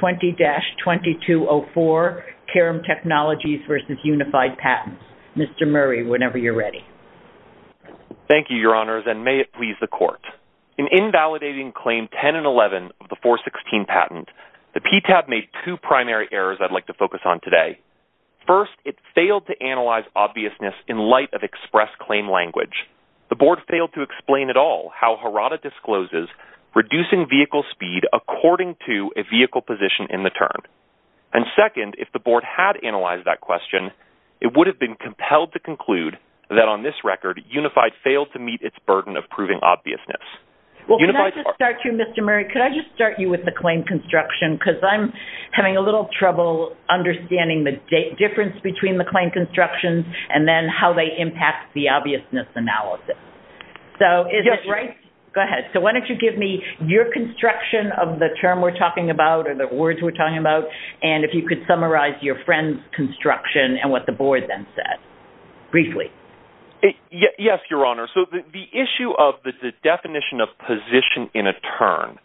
20-2204 Carum Technologies v. Unified Patents. Mr. Murray, whenever you're ready. Thank you, Your Honors, and may it please the Court. In invalidating Claim 10 and 11 of the 416 patent, the PTAB made two primary errors I'd like to focus on today. First, it failed to analyze obviousness in light of express claim language. The Board failed to explain at all how HARADA discloses reducing vehicle speed according to a vehicle position in the term. And second, if the Board had analyzed that question, it would have been compelled to conclude that on this record, Unified failed to meet its burden of proving obviousness. Well, can I just start you, Mr. Murray? Could I just start you with the claim construction? Because I'm having a little trouble understanding the difference between the claim construction and then how they impact the obviousness analysis. So is it right? Go ahead. So why don't you give me your construction of the term we're talking about or the words we're talking about, and if you could summarize your friend's construction and what the Board then said, briefly. Yes, Your Honor. So the issue of the definition of position in a term,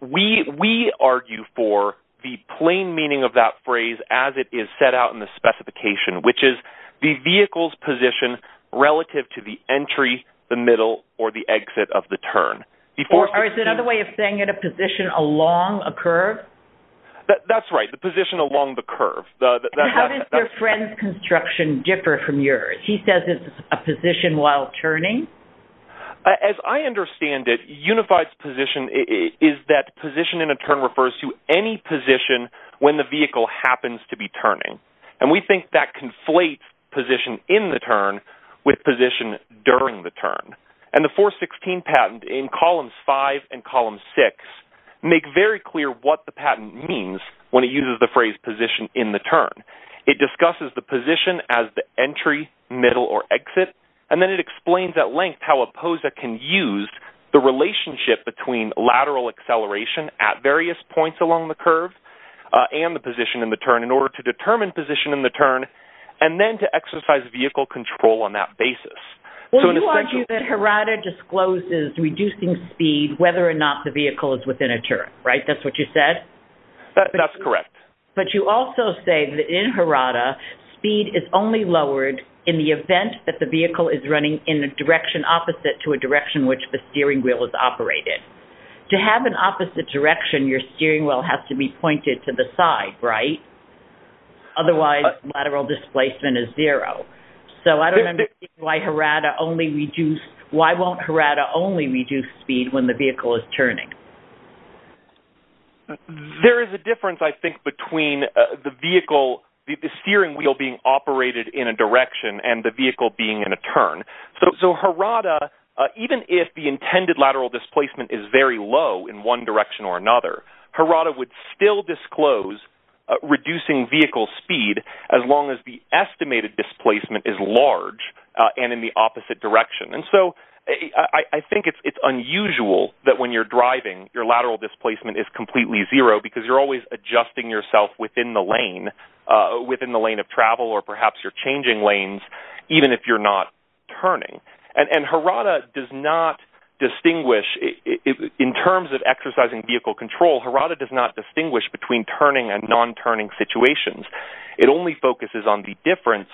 we argue for the plain meaning of that phrase as it is set out in the specification, which is the vehicle's position relative to the entry, the middle, or the exit of the turn. Or is it another way of saying in a position along a curve? That's right. The position along the curve. How does your friend's construction differ from yours? He says it's a position while turning. As I understand it, Unified's position is that position in a term refers to any position when vehicle happens to be turning. And we think that conflates position in the turn with position during the turn. And the 416 patent in columns 5 and column 6 make very clear what the patent means when it uses the phrase position in the turn. It discusses the position as the entry, middle, or exit, and then it explains at length how a POSA can use the relationship between lateral acceleration at various points along the curve and the position in the turn in order to determine position in the turn and then to exercise vehicle control on that basis. Well, you argue that Harada discloses reducing speed whether or not the vehicle is within a turn, right? That's what you said? That's correct. But you also say that in Harada, speed is only lowered in the event that the vehicle is running in the direction opposite to a direction which the steering wheel is operated. To have an opposite direction, your steering wheel has to be pointed to the side, right? Otherwise, lateral displacement is zero. So I don't understand why Harada only reduce, why won't Harada only reduce speed when the vehicle is turning? There is a difference, I think, between the vehicle, the steering wheel being operated in a direction and the vehicle being in a turn. So Harada, even if the intended lateral displacement is very low in one direction or another, Harada would still disclose reducing vehicle speed as long as the estimated displacement is large and in the opposite direction. And so I think it's unusual that when you're driving, your lateral displacement is completely zero because you're always adjusting yourself within the lane, within the lane of travel or perhaps you're changing lanes even if you're not turning. And Harada does not distinguish, in terms of exercising vehicle control, Harada does not distinguish between turning and non-turning situations. It only focuses on the difference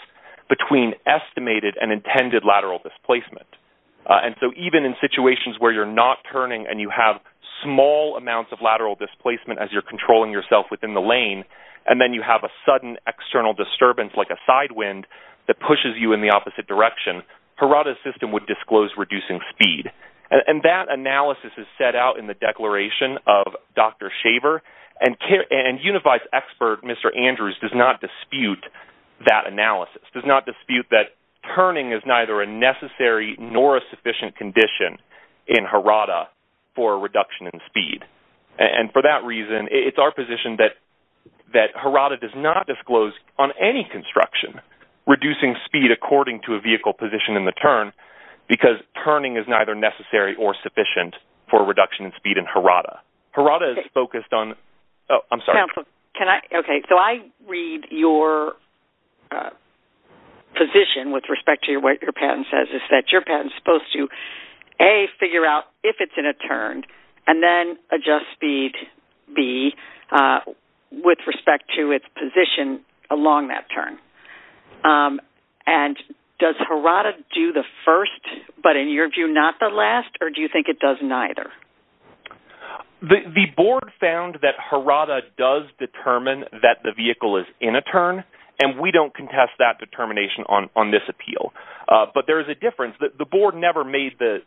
between estimated and intended lateral displacement. And so even in situations where you're not turning and you have small amounts of lateral displacement as you're controlling yourself within the lane, and then you have a sudden external disturbance like a side wind that pushes you in the opposite direction, Harada's system would disclose reducing speed. And that analysis is set out in the declaration of Dr. Shaver, and Unified's expert, Mr. Andrews, does not dispute that analysis, does not dispute that turning is neither a necessary nor a sufficient condition in Harada for a reduction in speed. And for that reason, it's our position that Harada does not disclose on any construction reducing speed according to a vehicle position in the turn because turning is neither necessary or sufficient for a reduction in speed in Harada. Harada is focused on, oh, I'm sorry. Can I, okay, so I read your position with respect to what your patent says is that your patent's supposed to, A, figure out if it's in a turn, and then adjust speed, B, with respect to its position along that turn. And does Harada do the first, but in your view, not the last, or do you think it does neither? The board found that Harada does determine that the vehicle is in a turn, and we don't contest that determination on this appeal. But there is a difference. The board never made the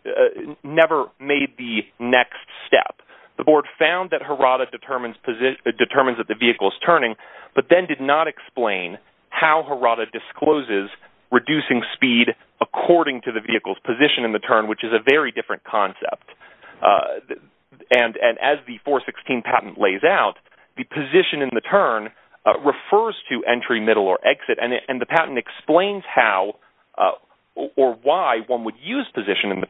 next step. The board found that Harada determines that the vehicle is turning, but then did not explain how Harada discloses reducing speed according to the vehicle's position in the turn, which is a very different concept. And as the 416 patent lays out, the position in the turn refers to entry, middle, or exit. And the patent explains how or why one would use position in the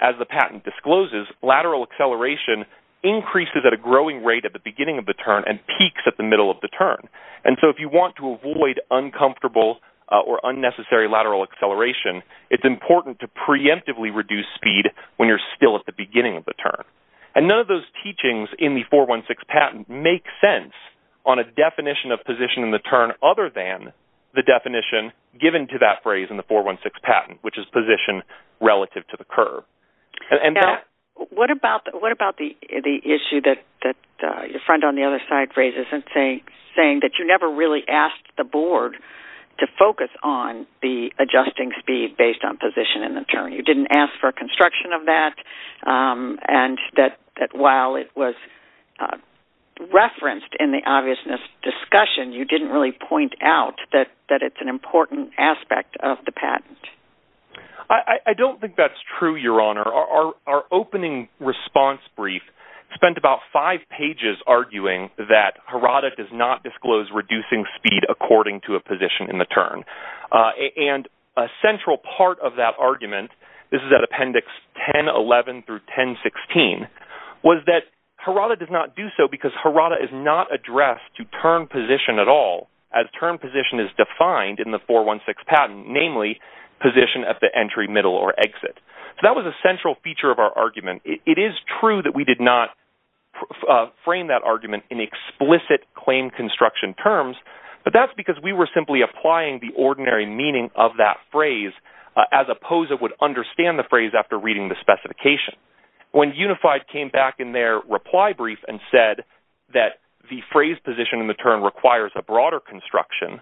as the patent discloses, lateral acceleration increases at a growing rate at the beginning of the turn and peaks at the middle of the turn. And so if you want to avoid uncomfortable or unnecessary lateral acceleration, it's important to preemptively reduce speed when you're still at the beginning of the turn. And none of those teachings in the 416 patent make sense on a definition of position in the turn other than the definition given to that phrase in the 416 patent, which is position relative to the curve. What about the issue that your friend on the other side raises, saying that you never really asked the board to focus on the adjusting speed based on position in the turn? You didn't ask for construction of that, and that while it was referenced in the obviousness discussion, you didn't really point out that it's an important aspect of the patent. I don't think that's true, Your Honor. Our opening response brief spent about five pages arguing that Harada does not disclose reducing speed according to a position in the turn. And a central part of that argument, this is at appendix 1011 through 1016, was that Harada does not do so because Harada is not addressed to turn position at all, as turn 416 patent, namely position at the entry, middle, or exit. So that was a central feature of our argument. It is true that we did not frame that argument in explicit claim construction terms, but that's because we were simply applying the ordinary meaning of that phrase as opposed to would understand the phrase after reading the specification. When Unified came back in their reply brief and said that the phrase position in the turn requires a broader construction,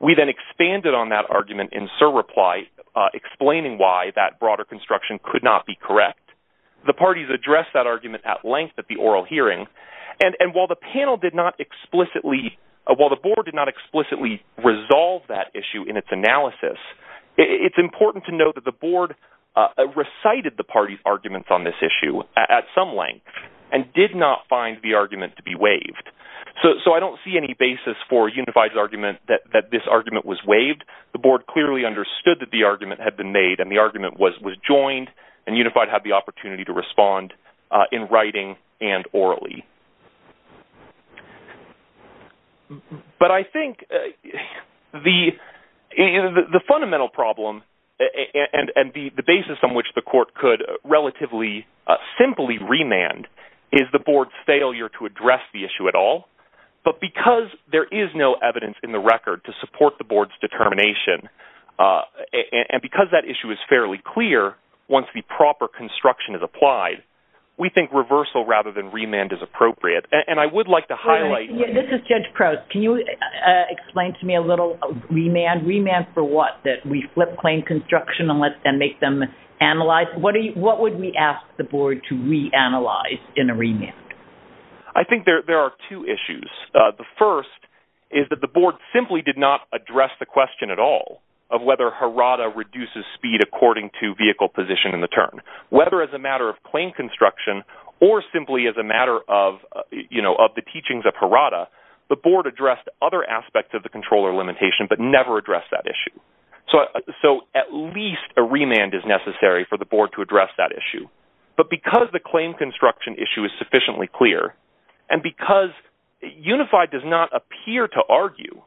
we then expanded on that argument in Sir reply, explaining why that broader construction could not be correct. The parties addressed that argument at length at the oral hearing. And while the panel did not explicitly, while the board did not explicitly resolve that issue in its analysis, it's important to note that the board recited the party's arguments on this issue at some length and did not find the argument to be waived. So I don't see any basis for Unified's that this argument was waived. The board clearly understood that the argument had been made and the argument was joined and Unified had the opportunity to respond in writing and orally. But I think the fundamental problem and the basis on which the court could relatively simply remand is the board's failure to address the issue at all. But because there is no evidence in the record to support the board's determination and because that issue is fairly clear once the proper construction is applied, we think reversal rather than remand is appropriate. And I would like to highlight... This is Judge Crouse. Can you explain to me a little remand? Remand for what? That we flip claim construction and make them analyze? What would we ask the board to reanalyze in a remand? I think there are two issues. The first is that the board simply did not address the question at all of whether Harada reduces speed according to vehicle position in the turn. Whether as a matter of claim construction or simply as a matter of, you know, of the teachings of Harada, the board addressed other aspects of the controller limitation, but never addressed that issue. So at least a remand is necessary for the board to address that issue. But because the issue is sufficiently clear and because Unified does not appear to argue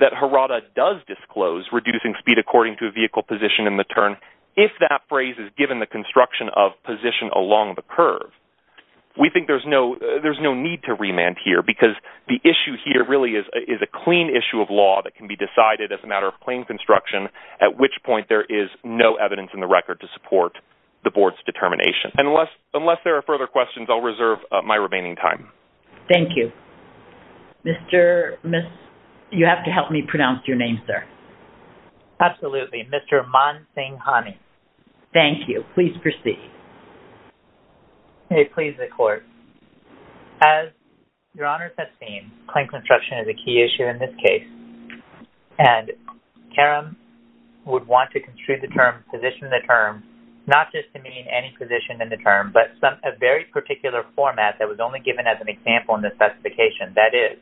that Harada does disclose reducing speed according to vehicle position in the turn, if that phrase is given the construction of position along the curve, we think there's no need to remand here because the issue here really is a clean issue of law that can be decided as a matter of claim construction, at which point there is no evidence in the record to support the board's determination. Unless there are further questions, I'll reserve my remaining time. Thank you. Mr. Miss, you have to help me pronounce your name, sir. Absolutely. Mr. Man Singh Hani. Thank you. Please proceed. May it please the court. As your Honor has seen, claim construction is a key issue in this case, and Karam would want to construe the term, position the term, not just to mean any position in the term, but a very particular format that was only given as an example in the specification. That is,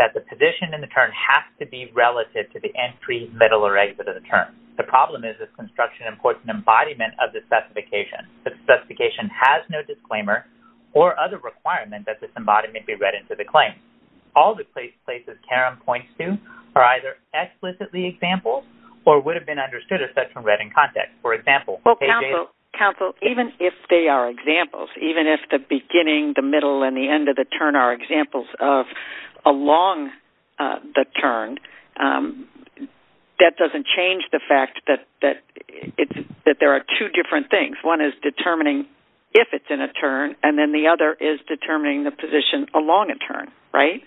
that the position in the term has to be relative to the entry, middle, or exit of the term. The problem is this construction imports an embodiment of the specification. The specification has no disclaimer or other requirement that this embodiment be read into the claim. All the places Karam points to are either explicitly examples or would have been understood if such were read in the term. If they are examples, even if the beginning, the middle, and the end of the turn are examples of along the turn, that doesn't change the fact that there are two different things. One is determining if it's in a turn, and then the other is determining the position along a turn, right?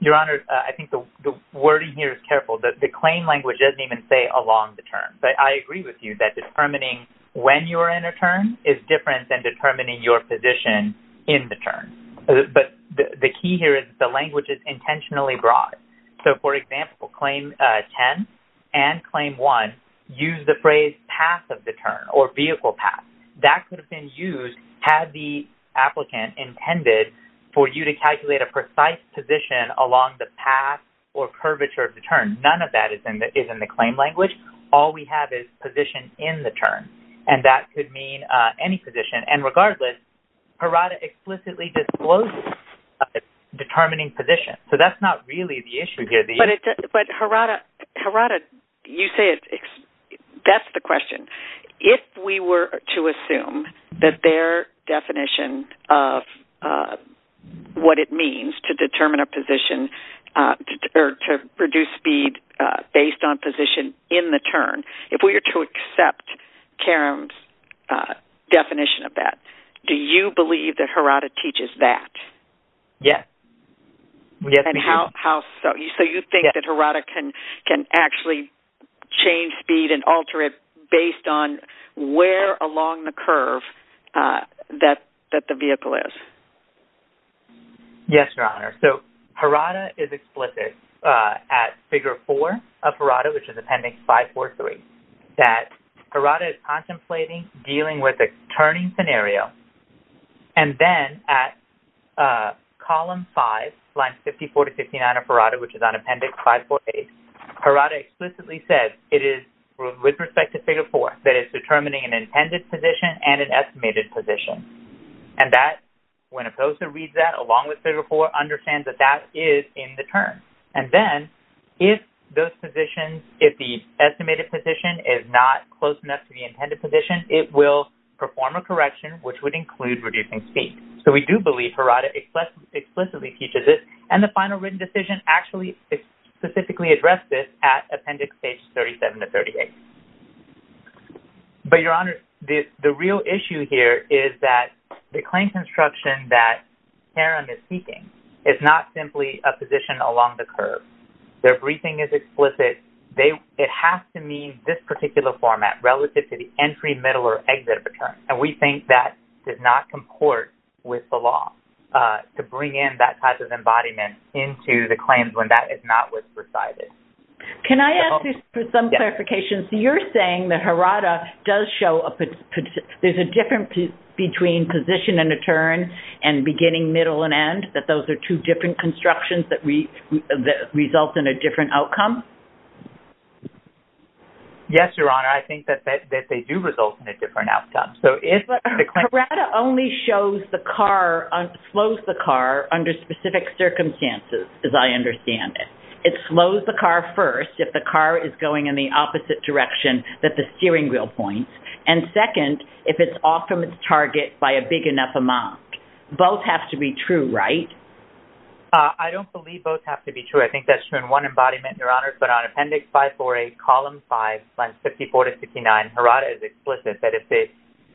Your Honor, I think the wording here is careful. The claim language doesn't even say along the turn, but I agree with you that determining when you are in a turn is different than determining your position in the turn. But the key here is the language is intentionally broad. So, for example, Claim 10 and Claim 1 use the phrase path of the turn or vehicle path. That could have been used had the applicant intended for you to calculate a precise position along the path or curvature of the turn. None of that is in the claim language. All we have is position in the turn, and that could mean any position. And regardless, HRADA explicitly discloses determining position. So, that's not really the issue here. But HRADA, you say that's the question. If we were to assume that their definition of what it means to determine a position or to reduce speed based on position in the turn, if we were to accept Karam's definition of that, do you believe that HRADA teaches that? Yes. And how so? So, you think that HRADA can actually change speed and alter it based on where along the curve that the vehicle is? Yes, Your Honor. So, HRADA is explicit at Figure 4 of HRADA, which is Appendix 543, that HRADA is contemplating dealing with a turning scenario. And then at Column 5, Lines 54 to 59 of HRADA, which is on Appendix 548, HRADA explicitly says it is with respect to Figure 4 that it's determining an intended position and an estimated position. And that, when opposed to read that along with Figure 4, understands that that is in the turn. And then, if those positions, if the estimated position is not close enough to the intended position, it will perform a correction, which would include reducing speed. So, we do believe HRADA explicitly teaches it, and the final written decision actually specifically addressed this at But, Your Honor, the real issue here is that the claim construction that Karen is seeking is not simply a position along the curve. Their briefing is explicit. It has to mean this particular format relative to the entry, middle, or exit of a turn. And we think that does not comport with the law to bring in that type of embodiment into the claims when that is not what's presided. Can I ask for some clarification? So, you're saying that HRADA does show a, there's a difference between position and a turn and beginning, middle, and end, that those are two different constructions that result in a different outcome? Yes, Your Honor. I think that they do result in a different outcome. So, if the claim… HRADA only shows the car, slows the car under specific circumstances, as I understand it. It slows the car first if the car is going in the opposite direction that the steering wheel points, and second, if it's off from its target by a big enough amount. Both have to be true, right? I don't believe both have to be true. I think that's true in one embodiment, Your Honor, but on Appendix 548, Column 5, Slides 54 to 59, HRADA is explicit that if the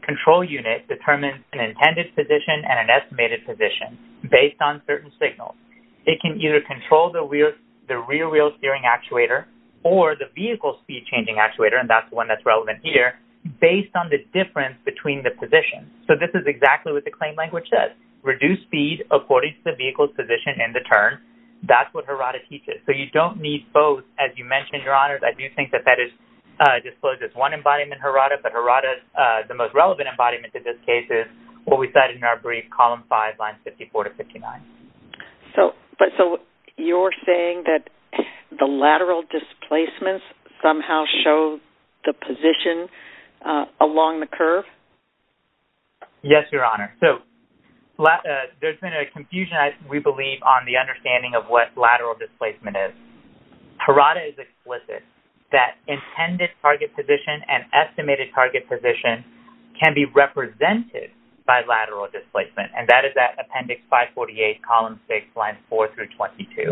control unit determines an intended position and an estimated position based on certain signals, it can either control the rear wheel steering actuator or the vehicle speed changing actuator, and that's the one that's relevant here, based on the difference between the positions. So, this is exactly what the claim language says. Reduce speed according to the vehicle's position and the turn. That's what HRADA teaches. So, you don't need both, as you mentioned, Your Honor. I do think that that discloses one embodiment, HRADA, but HRADA, the most relevant embodiment in this case is what we said in our brief, Column 5, Slides 54 to 59. But so, you're saying that the lateral displacements somehow show the position along the curve? Yes, Your Honor. So, there's been a confusion, we believe, on the understanding of what lateral displacement is. HRADA is explicit that intended target position and estimated target position can be represented by lateral displacement, and that is that Appendix 548, Column 6, Slides 4 through 22.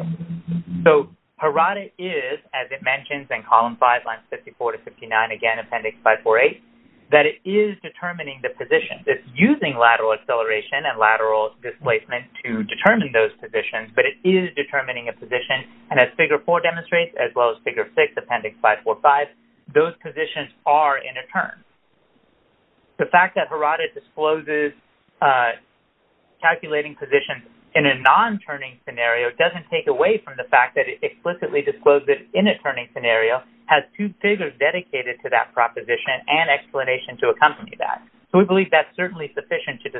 So, HRADA is, as it mentions in Column 5, Slides 54 to 59, again, Appendix 548, that it is determining the position. It's using lateral acceleration and lateral displacement to determine those positions, but it is determining a position, and as Figure 4 demonstrates, as well as Figure 6, Appendix 545, those positions are in a turn. The fact that HRADA discloses calculating positions in a non-turning scenario doesn't take away from the fact that it explicitly discloses it in a turning scenario, has two figures dedicated to that proposition and explanation to accompany that. So, we believe that's certainly sufficient to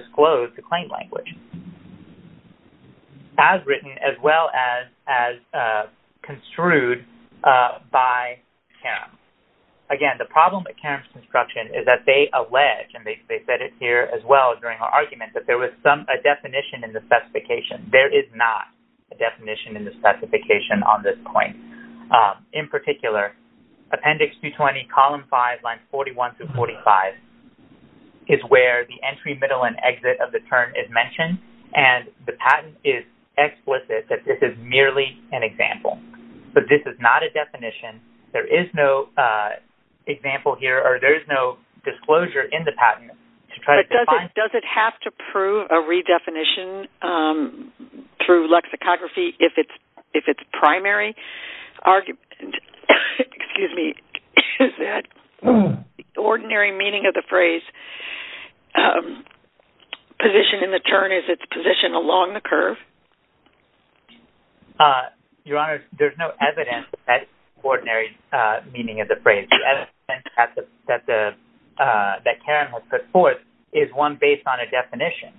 have written as well as construed by Karam. Again, the problem with Karam's construction is that they allege, and they said it here as well during our argument, that there was a definition in the specification. There is not a definition in the specification on this point. In particular, Appendix 220, Column 5, Lines 41 through 45, is where the entry, middle, and exit of the turn is mentioned, and the patent is explicit that this is merely an example, but this is not a definition. There is no example here, or there is no disclosure in the patent to try to define… Does it have to prove a redefinition through lexicography if it's primary? Excuse me. Is that ordinary meaning of the phrase position in the turn, is it position along the curve? Your Honor, there's no evidence that ordinary meaning of the phrase. The evidence that Karam has put forth is one based on a definition.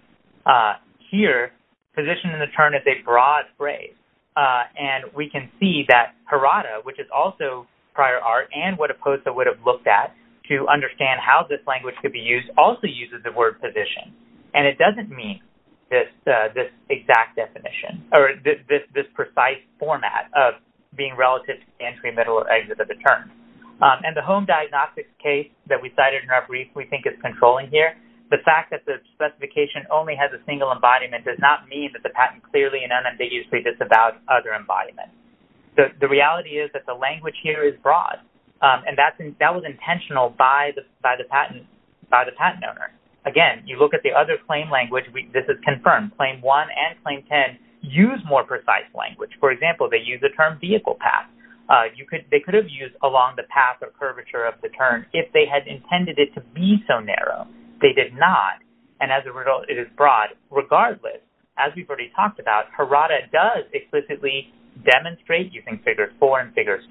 Here, position in the turn is a broad phrase, and we can see that Harada, which is also prior art and what Opposa would have looked at to understand how this language could be used, also uses the word position. It doesn't mean this exact definition or this precise format of being relative to entry, middle, or exit of the turn. The home diagnostics case that we cited in our brief we think is controlling here, the fact that the specification only has a single embodiment does not mean that the patent clearly and unambiguously it's about other embodiments. The reality is that the language here is broad, and that was intentional by the patent owner. Again, you look at the other claim language, this is confirmed. Claim 1 and Claim 10 use more precise language. For example, they use the term vehicle path. They could have used along the path or curvature of the turn if they had intended it to be so narrow. They did not, and as a result, it is broad regardless. As we've already talked about, Harada does explicitly demonstrate using Figure 4 and Figure 6,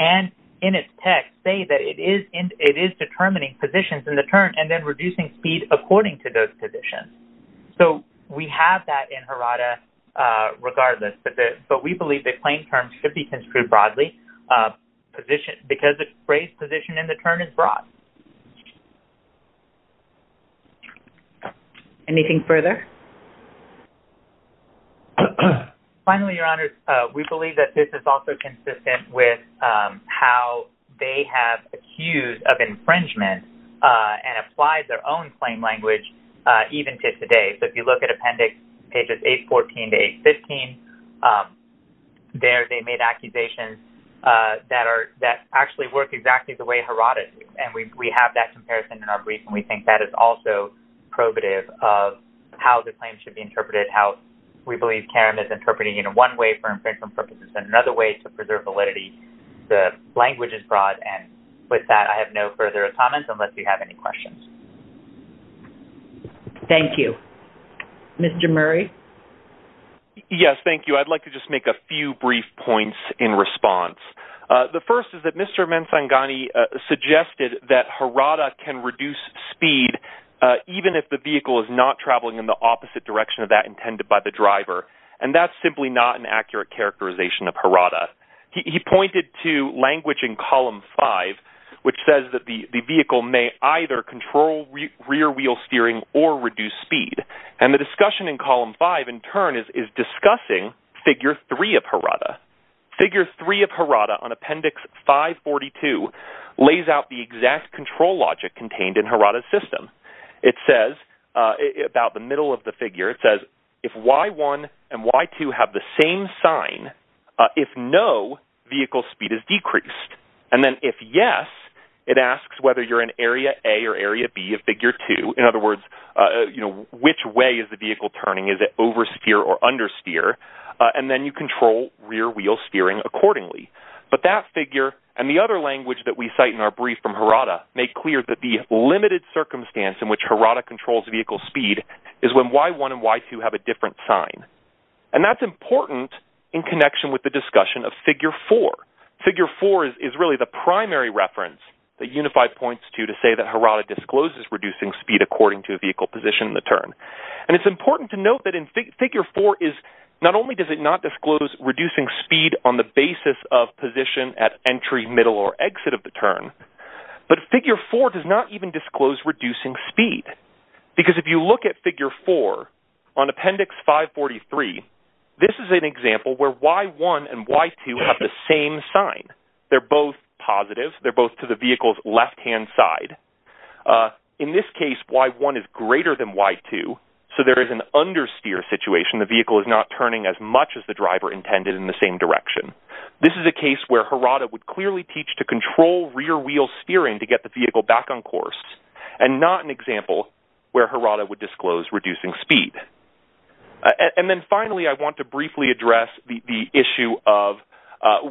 and in its text say that it is determining positions in the turn and then reducing speed according to those positions. So we have that in Harada regardless, but we believe the claim terms should be construed broadly because the phrase position in the turn is broad. Anything further? Finally, Your Honor, we believe that this is also consistent with how they have accused of infringement and applied their own claim language even to today. So if you look at appendix pages 814 to 815, there they made accusations that actually work exactly the way Harada does, and we have that comparison in our brief, and we think that is also probative of how the claim should be interpreted, how we believe CARIM is interpreting it in one way for infringement purposes and another way to preserve validity. The language is broad, and with that, I have no further comments unless you have any questions. Thank you. Mr. Murray? Yes, thank you. I'd like to just make a few brief points in response. The first is that Mr. Ansangani suggested that Harada can reduce speed even if the vehicle is not traveling in the opposite direction of that intended by the driver, and that's simply not an accurate characterization of Harada. He pointed to language in column 5 which says that the vehicle may either control rear wheel steering or reduce speed, and the discussion in column 5 in turn is discussing figure 3 of Harada. Figure 3 of Harada on appendix 542 lays out the exact control logic contained in Harada's system. It says about the middle of the figure, it says if Y1 and Y2 have the same sign, if no, vehicle speed is decreased, and then if yes, it asks whether you're in area A or area B of figure 2. In other words, which way is the vehicle turning? Is it oversteer or and then you control rear wheel steering accordingly, but that figure and the other language that we cite in our brief from Harada make clear that the limited circumstance in which Harada controls vehicle speed is when Y1 and Y2 have a different sign, and that's important in connection with the discussion of figure 4. Figure 4 is really the primary reference that Unified points to to say that Harada discloses reducing speed according to vehicle position in the turn, and it's important to note that in figure 4 is not only does it not disclose reducing speed on the basis of position at entry, middle, or exit of the turn, but figure 4 does not even disclose reducing speed because if you look at figure 4 on appendix 543, this is an example where Y1 and Y2 have the same sign. They're both positive. They're both to the vehicle's left-hand side. In this case, Y1 is greater than Y2, so there is an understeer situation. The vehicle is not turning as much as the driver intended in the same direction. This is a case where Harada would clearly teach to control rear wheel steering to get the vehicle back on course and not an example where Harada would disclose reducing speed. And then finally, I want to briefly address the issue of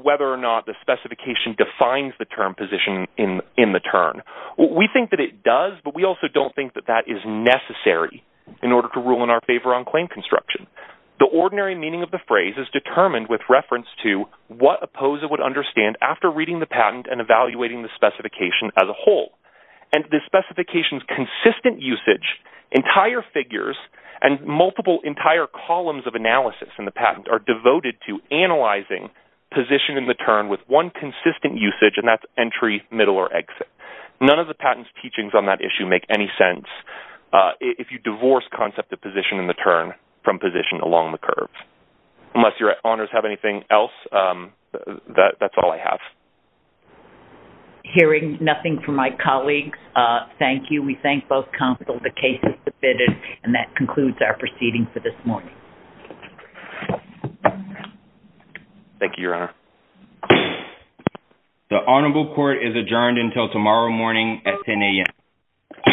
whether or not the specification defines the term position in the turn. We think that it does, but we also don't think that that is necessary in order to rule in our favor on claim construction. The ordinary meaning of the phrase is determined with reference to what a POSA would understand after reading the patent and evaluating the specification as a whole, and the specification's consistent usage, entire figures, and multiple entire columns of analysis in the patent are position in the turn with one consistent usage, and that's entry, middle, or exit. None of the patent's teachings on that issue make any sense if you divorce concept of position in the turn from position along the curve. Unless your honors have anything else, that's all I have. Hearing nothing from my colleagues, thank you. We thank both counsel. The case is adjourned. Thank you, your honor. The honorable court is adjourned until tomorrow morning at 10 am.